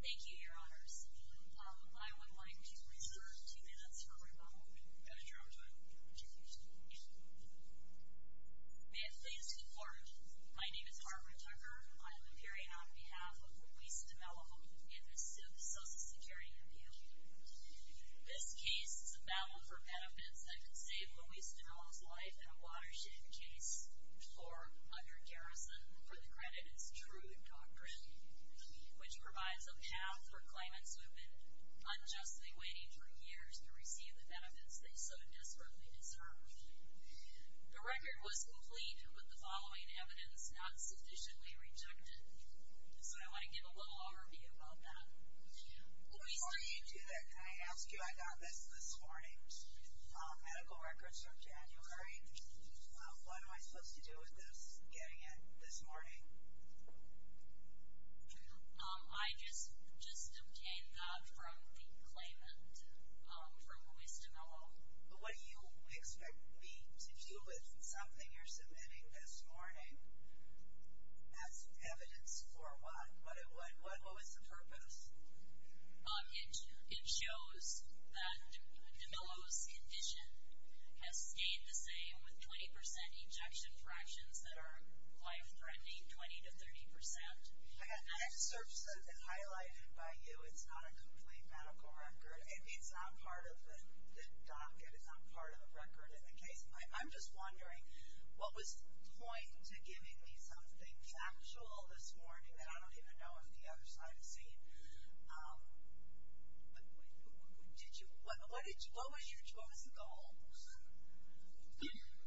Thank you, your honors. I would like to reserve two minutes for rebuttal. May it please the court. My name is Barbara Tucker. I am appearing on behalf of Luis Demelo in this civil social security appeal. This case is a battle for benefits that could save Luis Demelo's life in a watershed case or under garrison. For the credit, it's true and concrete. Which provides a path for claimants who have been unjustly waiting for years to receive the benefits they so desperately deserve. The record was complete with the following evidence not sufficiently rejected. So I want to give a little overview about that. Before you do that, can I ask you, I got this this morning. Medical records from January. What am I supposed to do with this, getting it this morning? I just obtained that from the claimant, from Luis Demelo. What do you expect me to do with something you're submitting this morning as evidence for what? What was the purpose? It shows that Demelo's condition has stayed the same with 20% ejection fractions that are life-threatening, 20 to 30%. I had to search something highlighted by you. It's not a complete medical record. It's not part of the docket. It's not part of the record in the case. I'm just wondering, what was the point to giving me something factual this morning that I don't even know if the other side has seen? What was the goal?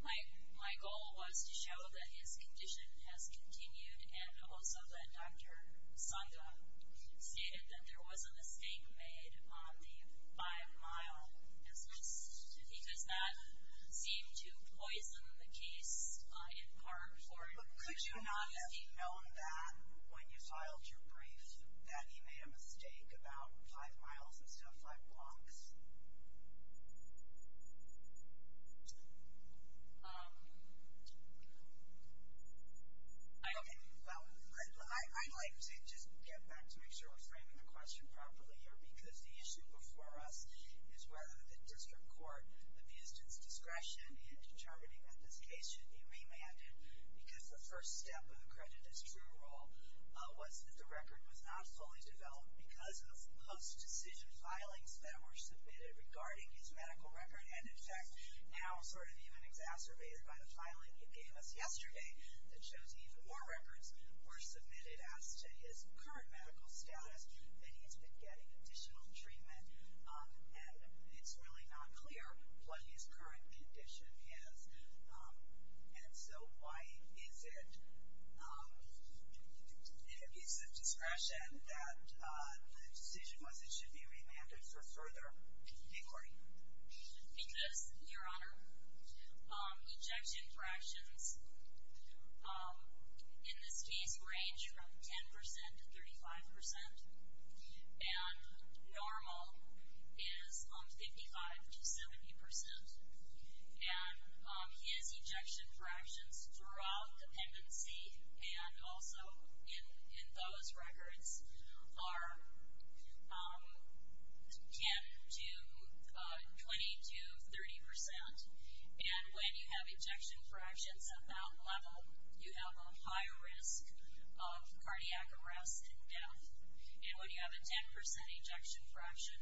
My goal was to show that his condition has continued and also that Dr. Sanga stated that there was a mistake made on the 5-mile. It's just because that seemed to poison the case in part. But could you not have known that when you filed your brief, that he made a mistake about 5 miles instead of 5 blocks? I'd like to just get back to make sure we're framing the question properly here because the issue before us is whether the district court abused its discretion in determining that this case should be remanded. Because the first step of the creditor's true role was that the record was not fully developed because of post-decision filings that were submitted regarding his medical record. And in fact, now sort of even exacerbated by the filing he gave us yesterday that shows even more records were submitted as to his current medical status that he's been getting additional treatment. And it's really not clear what his current condition is. And so why is it an abuse of discretion that the decision was it should be remanded for further inquiry? Because, Your Honor, ejection fractions in this case range from 10% to 35%. And normal is 55% to 70%. And his ejection fractions throughout dependency and also in those records are 10 to 20 to 30%. And when you have ejection fractions at that level, you have a higher risk of cardiac arrest and death. And when you have a 10% ejection fraction,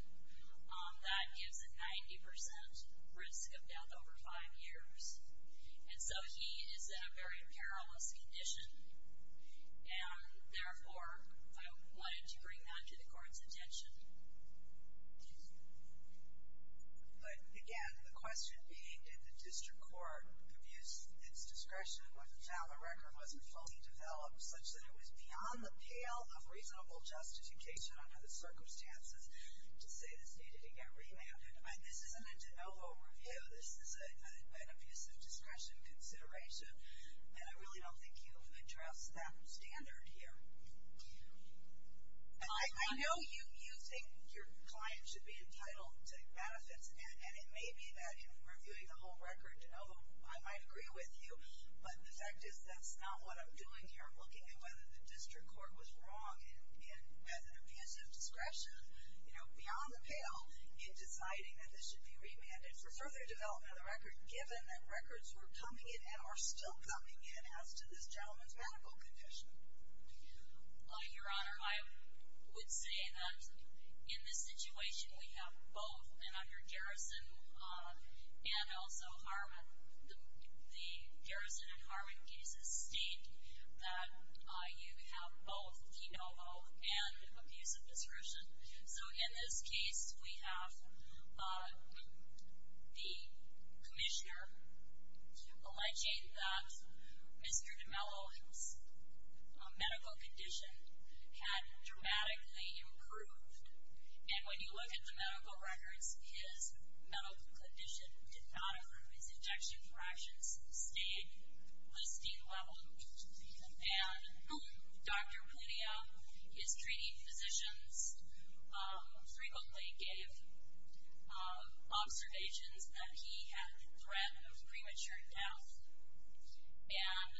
that gives a 90% risk of death over five years. And so he is in a very perilous condition. And therefore, I wanted to bring that to the court's attention. But again, the question being, did the district court abuse its discretion when the record wasn't fully developed such that it was beyond the pale of reasonable justification under the circumstances to say this needed to get remanded? This isn't a de novo review. This is an abuse of discretion consideration. And I really don't think you address that standard here. I know you think your client should be entitled to benefits. And it may be that in reviewing the whole record, oh, I might agree with you. But the fact is that's not what I'm doing here. I'm looking at whether the district court was wrong and with an abuse of discretion, you know, beyond the pale in deciding that this should be remanded for further development of the record, given that records were coming in and are still coming in as to this gentleman's medical condition. Your Honor, I would say that in this situation we have both, and under Garrison and also Harmon, the Garrison and Harmon cases state that you have both de novo and abuse of discretion. So, in this case, we have the commissioner alleging that Mr. D'Mello's medical condition had dramatically improved. And when you look at the medical records, his medical condition did not improve. His injection fractions stayed listing level. And Dr. Plutia, his treating physicians frequently gave observations that he had threat of premature death. And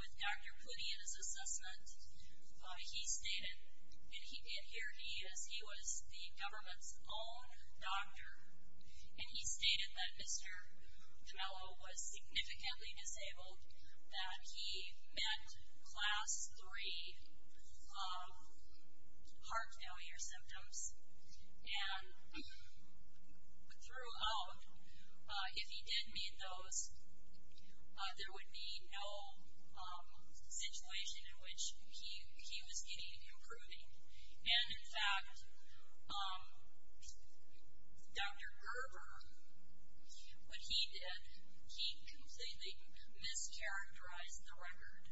with Dr. Plutia's assessment, he stated, and here he is, he was the government's own doctor, and he stated that Mr. D'Mello was significantly disabled, that he met class three heart failure symptoms. And throughout, if he did meet those, there would be no situation in which he was getting improving. And, in fact, Dr. Gerber, when he did, he completely mischaracterized the record.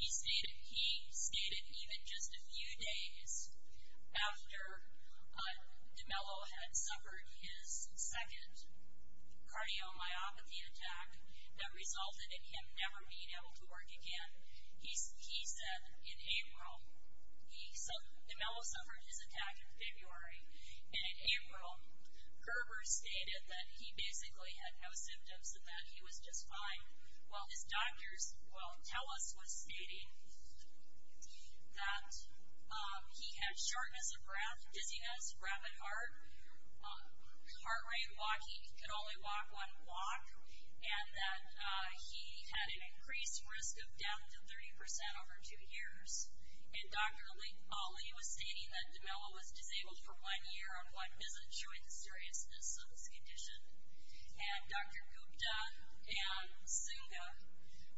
He stated even just a few days after D'Mello had suffered his second cardiomyopathy attack that resulted in him never being able to work again, he said in April, he, D'Mello suffered his attack in February. And in April, Gerber stated that he basically had no symptoms and that he was just fine. While his doctors, well, Telus was stating that he had shortness of breath, dizziness, rapid heart, heart rate, that he could only walk one walk, and that he had an increased risk of death to 30% over two years. And Dr. Ali was stating that D'Mello was disabled for one year on one visit, showing the seriousness of his condition. And Dr. Gupta and Zunga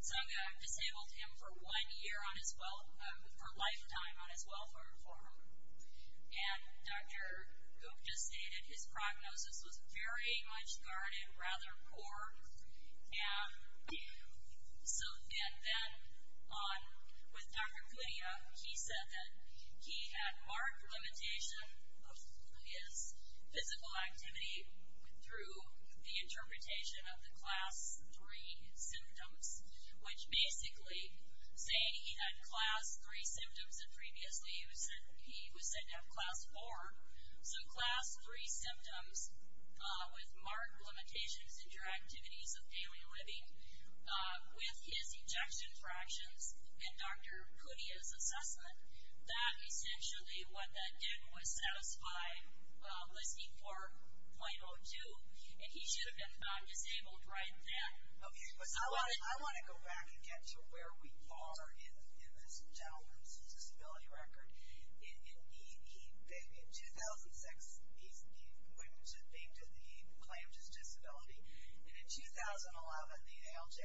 disabled him for one year on his, for a lifetime on his welfare form. And Dr. Gupta stated his prognosis was very much guarded, rather poor. And so, and then on, with Dr. Kudia, he said that he had marked limitation of his physical activity through the interpretation of the class three symptoms, which basically, saying he had class three symptoms, and previously he was said to have class four, so class three symptoms with marked limitations in your activities of daily living, with his ejection fractions, and Dr. Kudia's assessment, that essentially what that did was satisfy listing 4.02, and he should have been found disabled right then. I want to go back and get to where we are in this gentleman's disability record. In 2006, he went to, he claimed his disability, and in 2011, the ALJ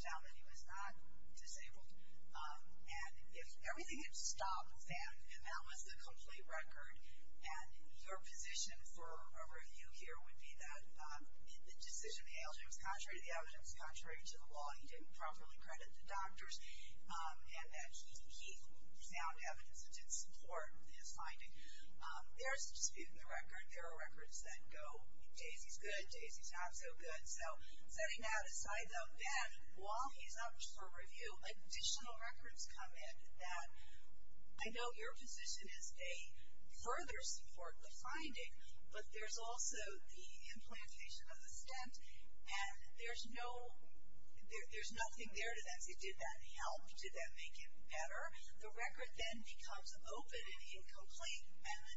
found that he was not disabled. And if everything had stopped then, and that was the complete record, and your position for a review here would be that the decision of the ALJ was contrary to the evidence, contrary to the law, he didn't properly credit the doctors, and that he found evidence that did support his finding. There's a dispute in the record. There are records that go, Daisy's good, Daisy's not so good. So, setting that aside, though, then, while he's up for review, additional records come in that, I know your position is they further support the finding, but there's also the implantation of the stent, and there's no, there's nothing there to that. Did that help? Did that make it better? The record then becomes open and incomplete, and the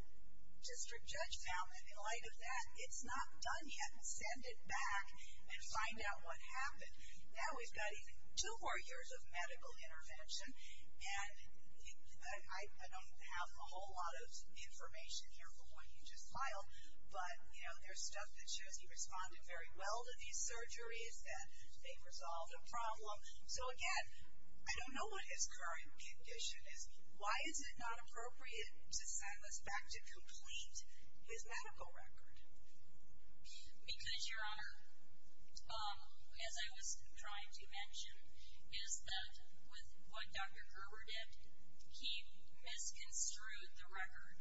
district judge found that in light of that, it's not done yet. Send it back and find out what happened. Now we've got two more years of medical intervention, and I don't have a whole lot of information here from what you just filed, but, you know, there's stuff that shows he responded very well to these surgeries, that they resolved a problem. So, again, I don't know what his current condition is. Why is it not appropriate to send this back to complete his medical record? Because, Your Honor, as I was trying to mention, is that with what Dr. Gerber did, he misconstrued the record.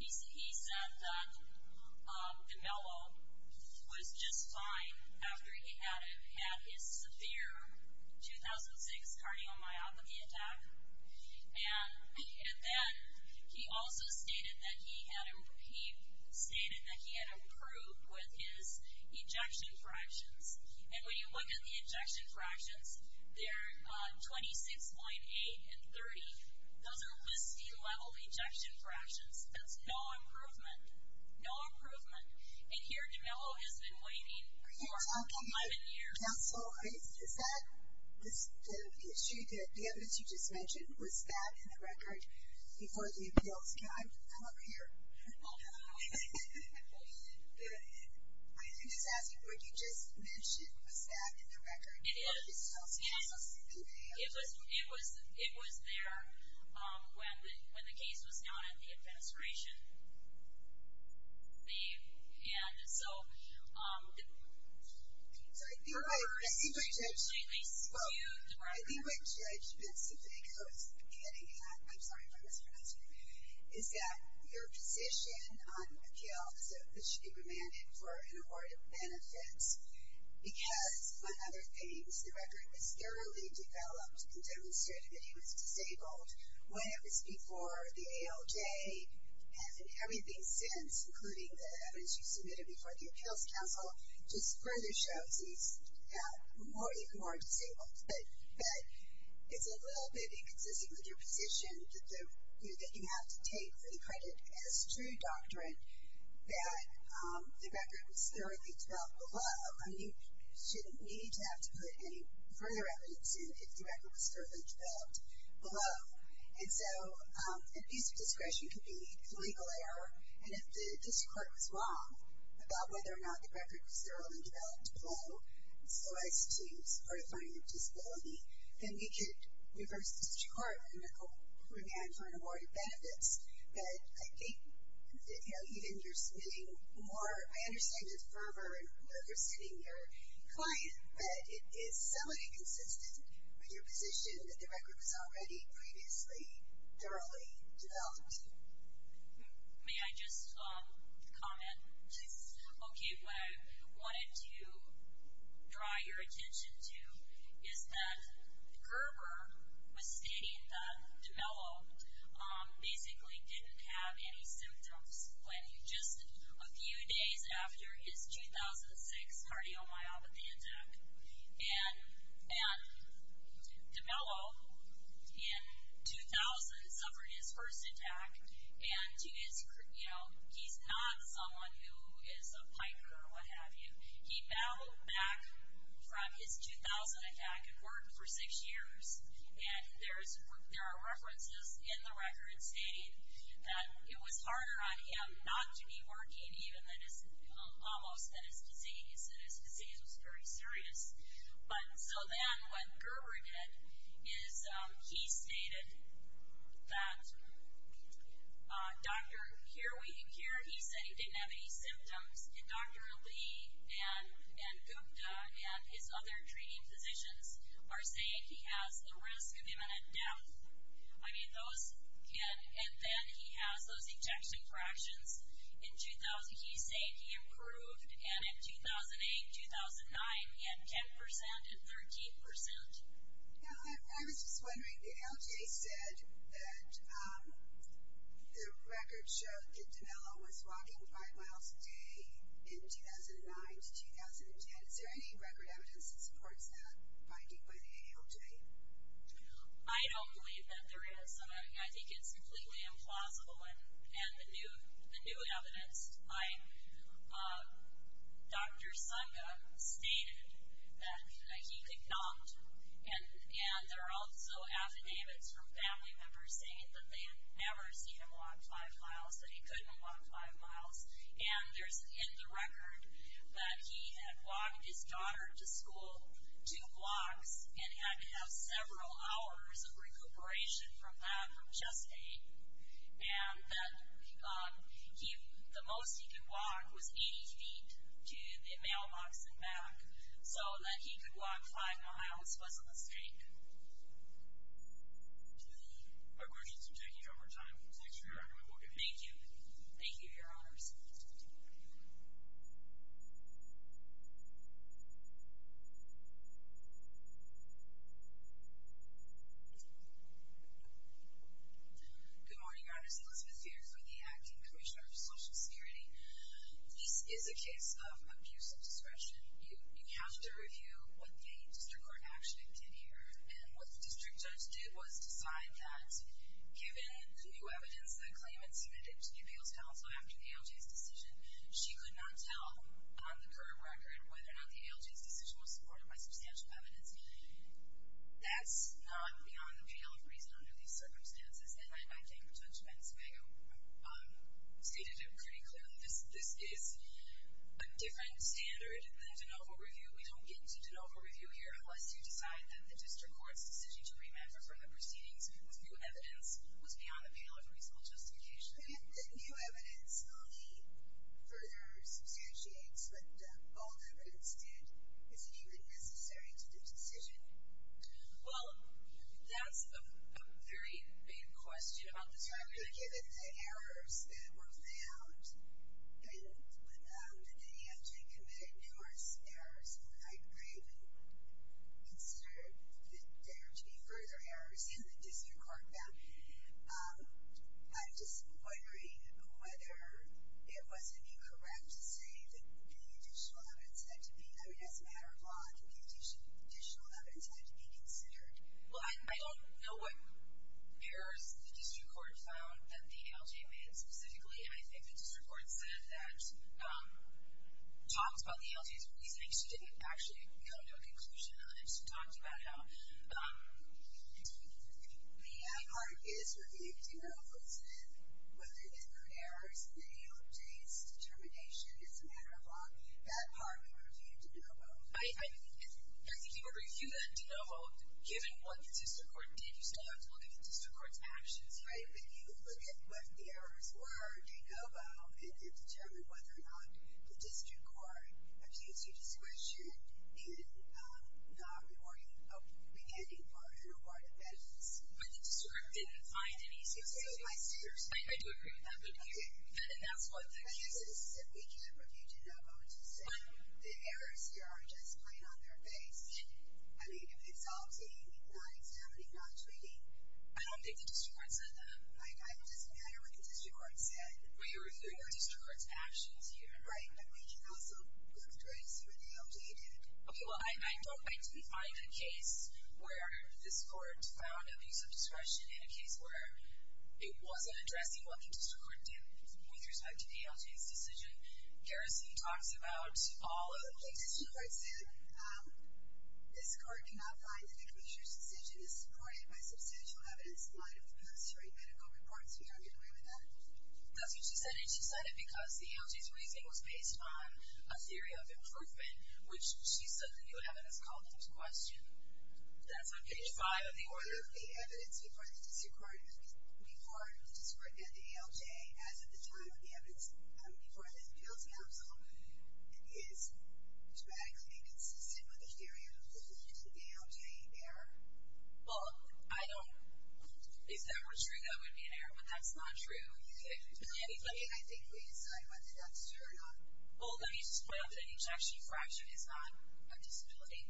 He said that the mellow was just fine after he had his severe 2006 cardiomyopathy attack, and then he also stated that he had improved with his ejection fractions. And when you look at the ejection fractions, they're 26.8 and 30. Those are LISD level ejection fractions. That's no improvement, no improvement. And here the mellow has been waiting for 11 years. Counsel, is that the issue, the evidence you just mentioned, was that in the record before the appeals? I'm up here. I'm just asking, what you just mentioned, was that in the record before the appeals? It was there when the case was down at the administration. And so, I think my judgment is the thing I was getting at, I'm sorry for mispronouncing, is that your position on the appeals that should be remanded for an award of benefits, because, among other things, the record was thoroughly developed and demonstrated that he was disabled when it was before the ALJ. And everything since, including the evidence you submitted before the appeals counsel, just further shows he's even more disabled. But it's a little bit inconsistent with your position that you have to take for the credit as true doctrine that the record was thoroughly developed below. You need to have to put any further evidence in if the record was thoroughly developed below. And so, abuse of discretion can be a legal error. And if the district court was wrong about whether or not the record was thoroughly developed below, so as to support a finding of disability, then we could reverse the district court and remand for an award of benefits. But I think, you know, even your submitting more, I understand your fervor in overstating your client, but it is somewhat inconsistent with your position that the record was already previously thoroughly developed. May I just comment? Please. Okay, what I wanted to draw your attention to is that Gerber was stating that DeMello basically didn't have any symptoms when just a few days after his 2006 cardiomyopathy attack. And DeMello, in 2000, suffered his first attack, and he's not someone who is a piker or what have you. He battled back from his 2000 attack and worked for six years. And there are references in the record stating that it was harder on him not to be working, almost, than his disease, and his disease was very serious. But so then what Gerber did is he stated that, here he said he didn't have any symptoms, and Dr. Lee and Gupta and his other treating physicians are saying he has the risk of imminent death. I mean, those can, and then he has those ejection fractions. In 2000, he's saying he improved, and in 2008, 2009, he had 10% and 13%. I was just wondering, the ALJ said that the record showed that DeMello was walking five miles a day in 2009 to 2010. Is there any record evidence that supports that finding by the ALJ? I don't believe that there is. I think it's completely implausible. And the new evidence, Dr. Sangha stated that he could not, and there are also affidavits from family members saying that they had never seen him walk five miles, that he couldn't walk five miles. And there's in the record that he had walked his daughter to school two blocks and had to have several hours of recuperation from that from chest pain. And that the most he could walk was 80 feet to the mailbox and back, so that he could walk five miles, wasn't a mistake. I appreciate you taking your time. Next we are going to look at... Thank you. Thank you, Your Honors. Thank you. Good morning, Your Honors. Elizabeth here for the Acting Commissioner of Social Security. This is a case of abuse of discretion. You have to review what the district court action did here, and what the district judge did was decide that given the new evidence, the claim it submitted to the appeals counsel after the ALJ's decision, she could not tell on the current record whether or not the ALJ's decision was supported by substantial evidence. That's not beyond the pale of reason under these circumstances, and I think Judge Benzemago stated it pretty clearly. This is a different standard than de novo review. We don't get into de novo review here unless you decide that the district court's decision to remand from the proceedings with new evidence was beyond the pale of reasonable justification. If the new evidence only further substantiates what the old evidence did, is it even necessary to the decision? Well, that's a very vague question. Given the errors that were found, and when the ALJ committed numerous errors, I would consider that there to be further errors in the district court found. I'm just wondering whether it wasn't incorrect to say that the additional evidence had to be, I mean, as a matter of law, additional evidence had to be considered. Well, I don't know what errors the district court found that the ALJ made specifically, and I think the district court said that talks about the ALJ's reasoning she didn't actually come to a conclusion unless she talked about it all. The part is reviewed de novo as if whether there were errors in the ALJ's determination is a matter of law. That part would be reviewed de novo. I think you would review that de novo given what the district court did. You still have to look at the district court's actions. That's right. But you look at what the errors were de novo and determine whether or not the district court abused your discretion in not reporting a beheading for an award of evidence. But the district court didn't find any. Okay. I do agree with that. Okay. And that's what the case is. I guess we can't review de novo to say the errors here are just plain on their face. I mean, if it's all seen, not examining, not treating. I don't think the district court said that. It doesn't matter what the district court said. Well, you're reviewing the district court's actions here. Right. But we can also look at what the ALJ did. Okay. Well, I don't think we find a case where this court found abuse of discretion in a case where it wasn't addressing what the district court did with respect to the ALJ's decision. Garrison talks about all of it. Like the district court said, this court did not find that the commissioner's decision is supported by substantial evidence in light of the post-hearing medical reports. We don't get away with that. That's what she said, and she said it because the ALJ's reasoning was based on a theory of improvement, which she said the new evidence called into question. That's on page 5 of the order. The evidence before the district court and the ALJ, as at the time of the evidence before the ALJ counsel, is dramatically inconsistent with the theory of improvement of the ALJ error. Well, I don't – if that were true, that would be an error. But that's not true. I think we decide whether that's true or not. Well, let me just point out that an ejection fraction is not a disability.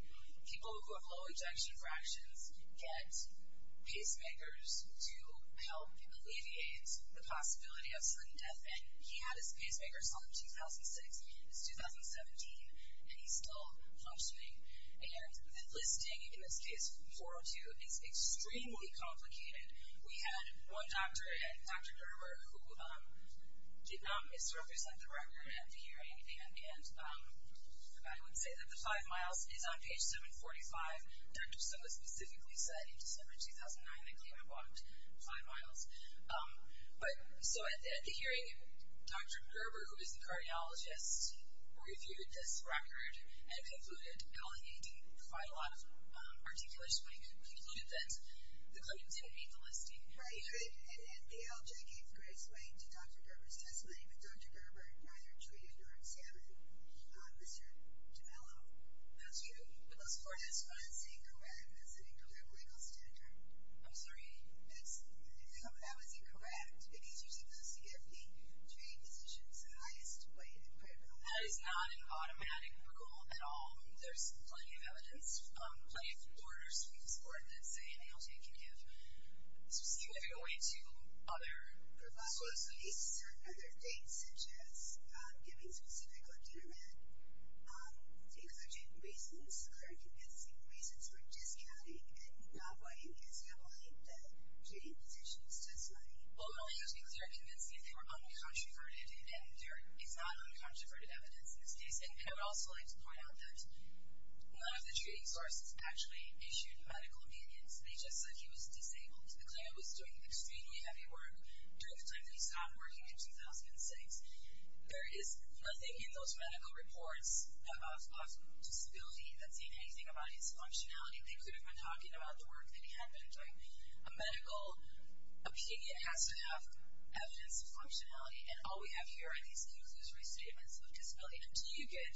People who have low ejection fractions get pacemakers to help alleviate the possibility of sudden death. And he had his pacemaker signed in 2006. It's 2017, and he's still functioning. And the listing, in this case, 402, is extremely complicated. We had one doctor, Dr. Gerber, who did not misrepresent the record at the hearing, and I would say that the five miles is on page 745. Dr. Stillman specifically said in December 2009 that he walked five miles. But so at the hearing, Dr. Gerber, who is the cardiologist, reviewed this record and concluded, and only he didn't provide a lot of articulation, but he concluded that the claim didn't meet the listing. Right, right. And the ALJ gave the greatest weight to Dr. Gerber's testimony, but Dr. Gerber neither treated nor examined Mr. Gemello. That's true. But those four tests were not seen correct. That's an incorrect legal standard. I'm sorry? No, that was incorrect. It means you're supposed to give the three physicians the highest weight. That is not an automatic rule at all. There's plenty of evidence, plenty of orders from the court that say an ALJ can give a specific weight to other persons. There are certain other things, such as giving a specific lactate amount, exerting reasons or convincing reasons for discounting the weight, because you believe that treating physicians does nothing. Well, it would be clear and convincing if they were uncontroverted, and there is not uncontroverted evidence in this case. And I would also like to point out that none of the treating sources actually issued medical opinions. They just said he was disabled. The claimant was doing extremely heavy work during the time that he stopped working in 2006. There is nothing in those medical reports of disability that's saying anything about his functionality. They could have been talking about the work that he had been doing. A medical opinion has to have evidence of functionality, and all we have here are these conclusory statements of disability. Until you get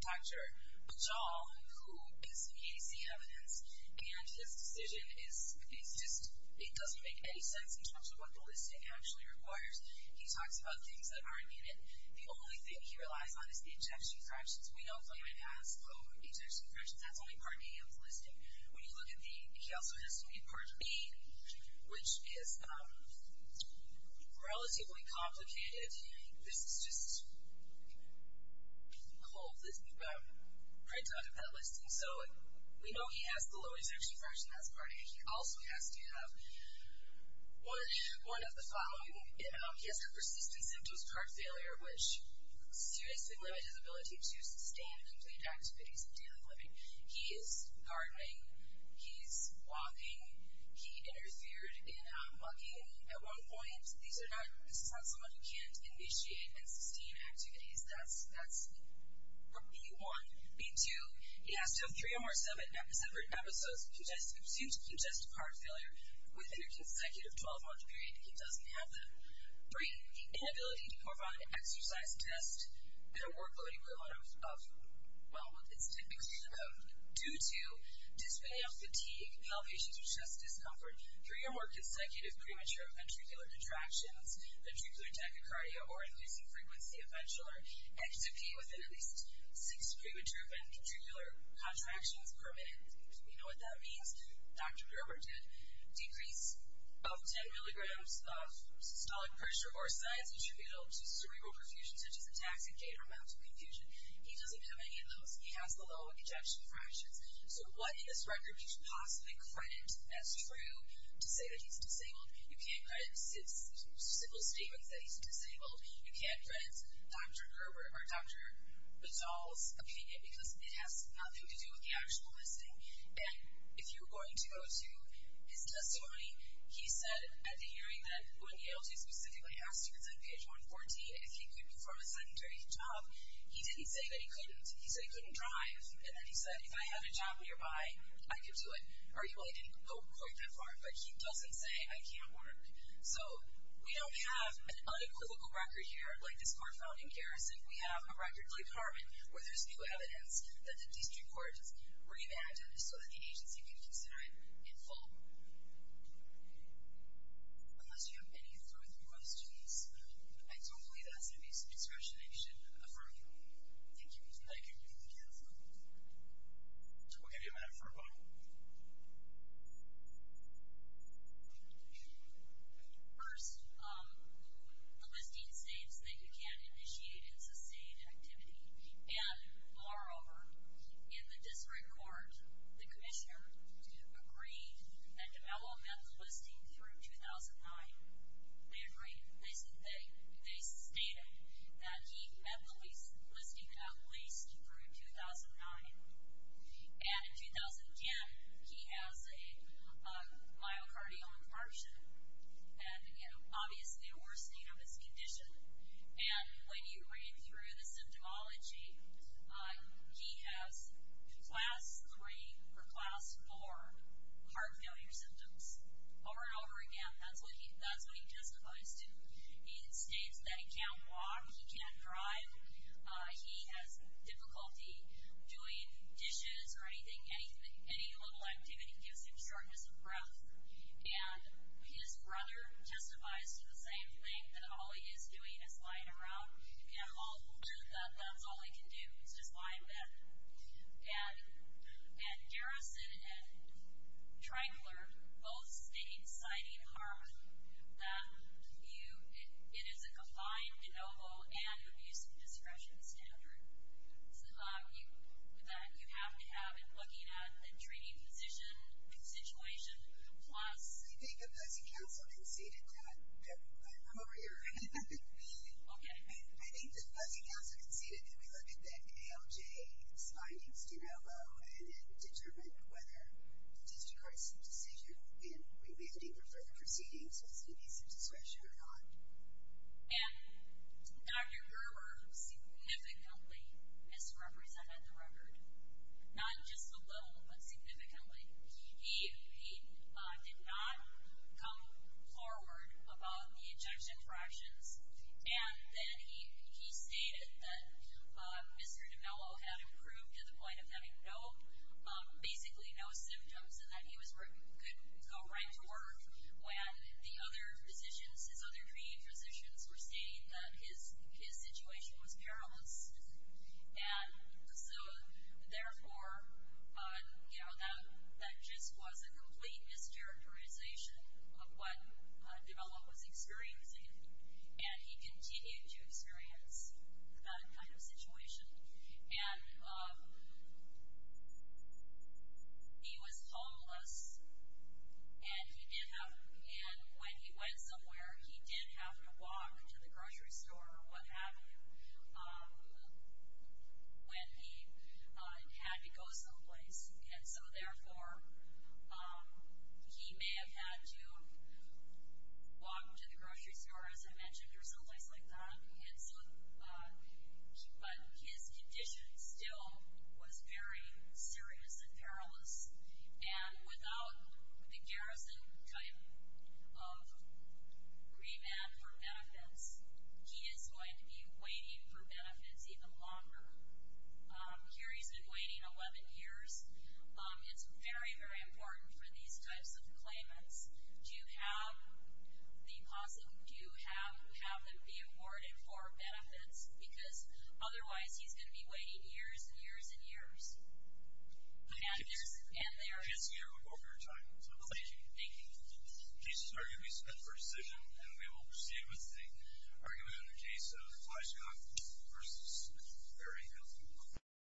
Dr. Bajal, who is the EAC evidence, and his decision is just, it doesn't make any sense in terms of what the listing actually requires. He talks about things that aren't in it. The only thing he relies on is the ejection fractions. We know claimant has co-ejection fractions. That's only part A of the listing. When you look at the, he also has to meet part B, which is relatively complicated. This is just cold, this printout of that listing. So we know he has the low ejection fraction, that's part A. He also has to have one of the following. He has a persistent symptoms of heart failure, which seriously limits his ability to sustain and complete activities of daily living. He is gardening, he's walking, he interfered in mugging. At one point, this is not someone who can't initiate and sustain activities. That's B1. B2, he has to have three or more separate episodes of congestive heart failure within a consecutive 12-month period. He doesn't have them. Three, the inability to perform an exercise test in a workload with a lot of, well, it's typically low. Due to display of fatigue, palpations or chest discomfort, three or more consecutive premature ventricular contractions, ventricular tachycardia, or increasing frequency of ventrular XFP within at least six premature ventricular contractions per minute. Do we know what that means? Dr. Gerber did. Decrease of 10 milligrams of systolic pressure or a size attributable to cerebral perfusion, such as a tachycardia or mental confusion. He doesn't have any of those. He has the low ejection fractions. So what in this record do you possibly credit as true to say that he's disabled? You can't credit simple statements that he's disabled. You can't credit Dr. Gerber or Dr. Bazaal's opinion, because it has nothing to do with the actual listing. And if you're going to go to his testimony, he said at the hearing that when Yale specifically asked students on page 140 if he could perform a sedentary job, he didn't say that he couldn't. He said he couldn't drive, and then he said, if I had a job nearby, I could do it. Arguably, he didn't go quite that far, but he doesn't say I can't work. So we don't have an unequivocal record here like this court found in Garrison. We have a record like Harmon where there's new evidence that the district court revamped it so that the agency can consider it in full. Unless you have any further questions, I don't believe that's an abuse of discretion I should affirm here. Thank you. Thank you. Thank you. We'll give you a minute for a vote. First, the listing states that you can't initiate and sustain activity. And moreover, in the district court, the commissioner agreed that DeMello met the listing through 2009. They agreed. They stated that he met the listing at least through 2009. And in 2010, he has a myocardial infarction, and obviously a worsening of his condition. And when you read through the symptomology, he has class 3 or class 4 heart failure symptoms over and over again. That's what he testifies to. He states that he can't walk. He can't drive. He has difficulty doing dishes or anything, any little activity gives him shortness of breath. And his brother testifies to the same thing, that all he is doing is lying around. And that's all he can do is just lie in bed. And Garrison and Trangler both state, citing Harmon, that it is a confined de novo and abuse of discretion standard that you have to have in looking at a treating physician situation I think that Fuzzy Castle conceded that. I'm over here. Okay. I think that Fuzzy Castle conceded that we look at the ALJ's findings de novo and then determine whether it is a discretionary decision in reviewing the further proceedings as to the use of discretion or not. And Dr. Gerber significantly misrepresented the record, not just a little, but significantly. He did not come forward about the ejection fractions. And then he stated that Mr. DiMello had improved to the point of having basically no symptoms and that he could go right to work when the other physicians, his other treating physicians, were stating that his situation was perilous. And so, therefore, you know, that just was a complete mischaracterization of what DiMello was experiencing, and he continued to experience that kind of situation. And he was homeless, and when he went somewhere, he did have to walk to the grocery store or what have you. When he had to go someplace. And so, therefore, he may have had to walk to the grocery store, as I mentioned, or someplace like that. But his condition still was very serious and perilous. And without the garrison type of remand for benefits, he is going to be waiting for benefits even longer. Here he's been waiting 11 years. It's very, very important for these types of claimants to have them be awarded for benefits, because otherwise he's going to be waiting years and years and years. And there is no more time. Thank you. The case is arguably set for decision, and we will proceed with the argument in the case of Flyscott versus the very healthy one.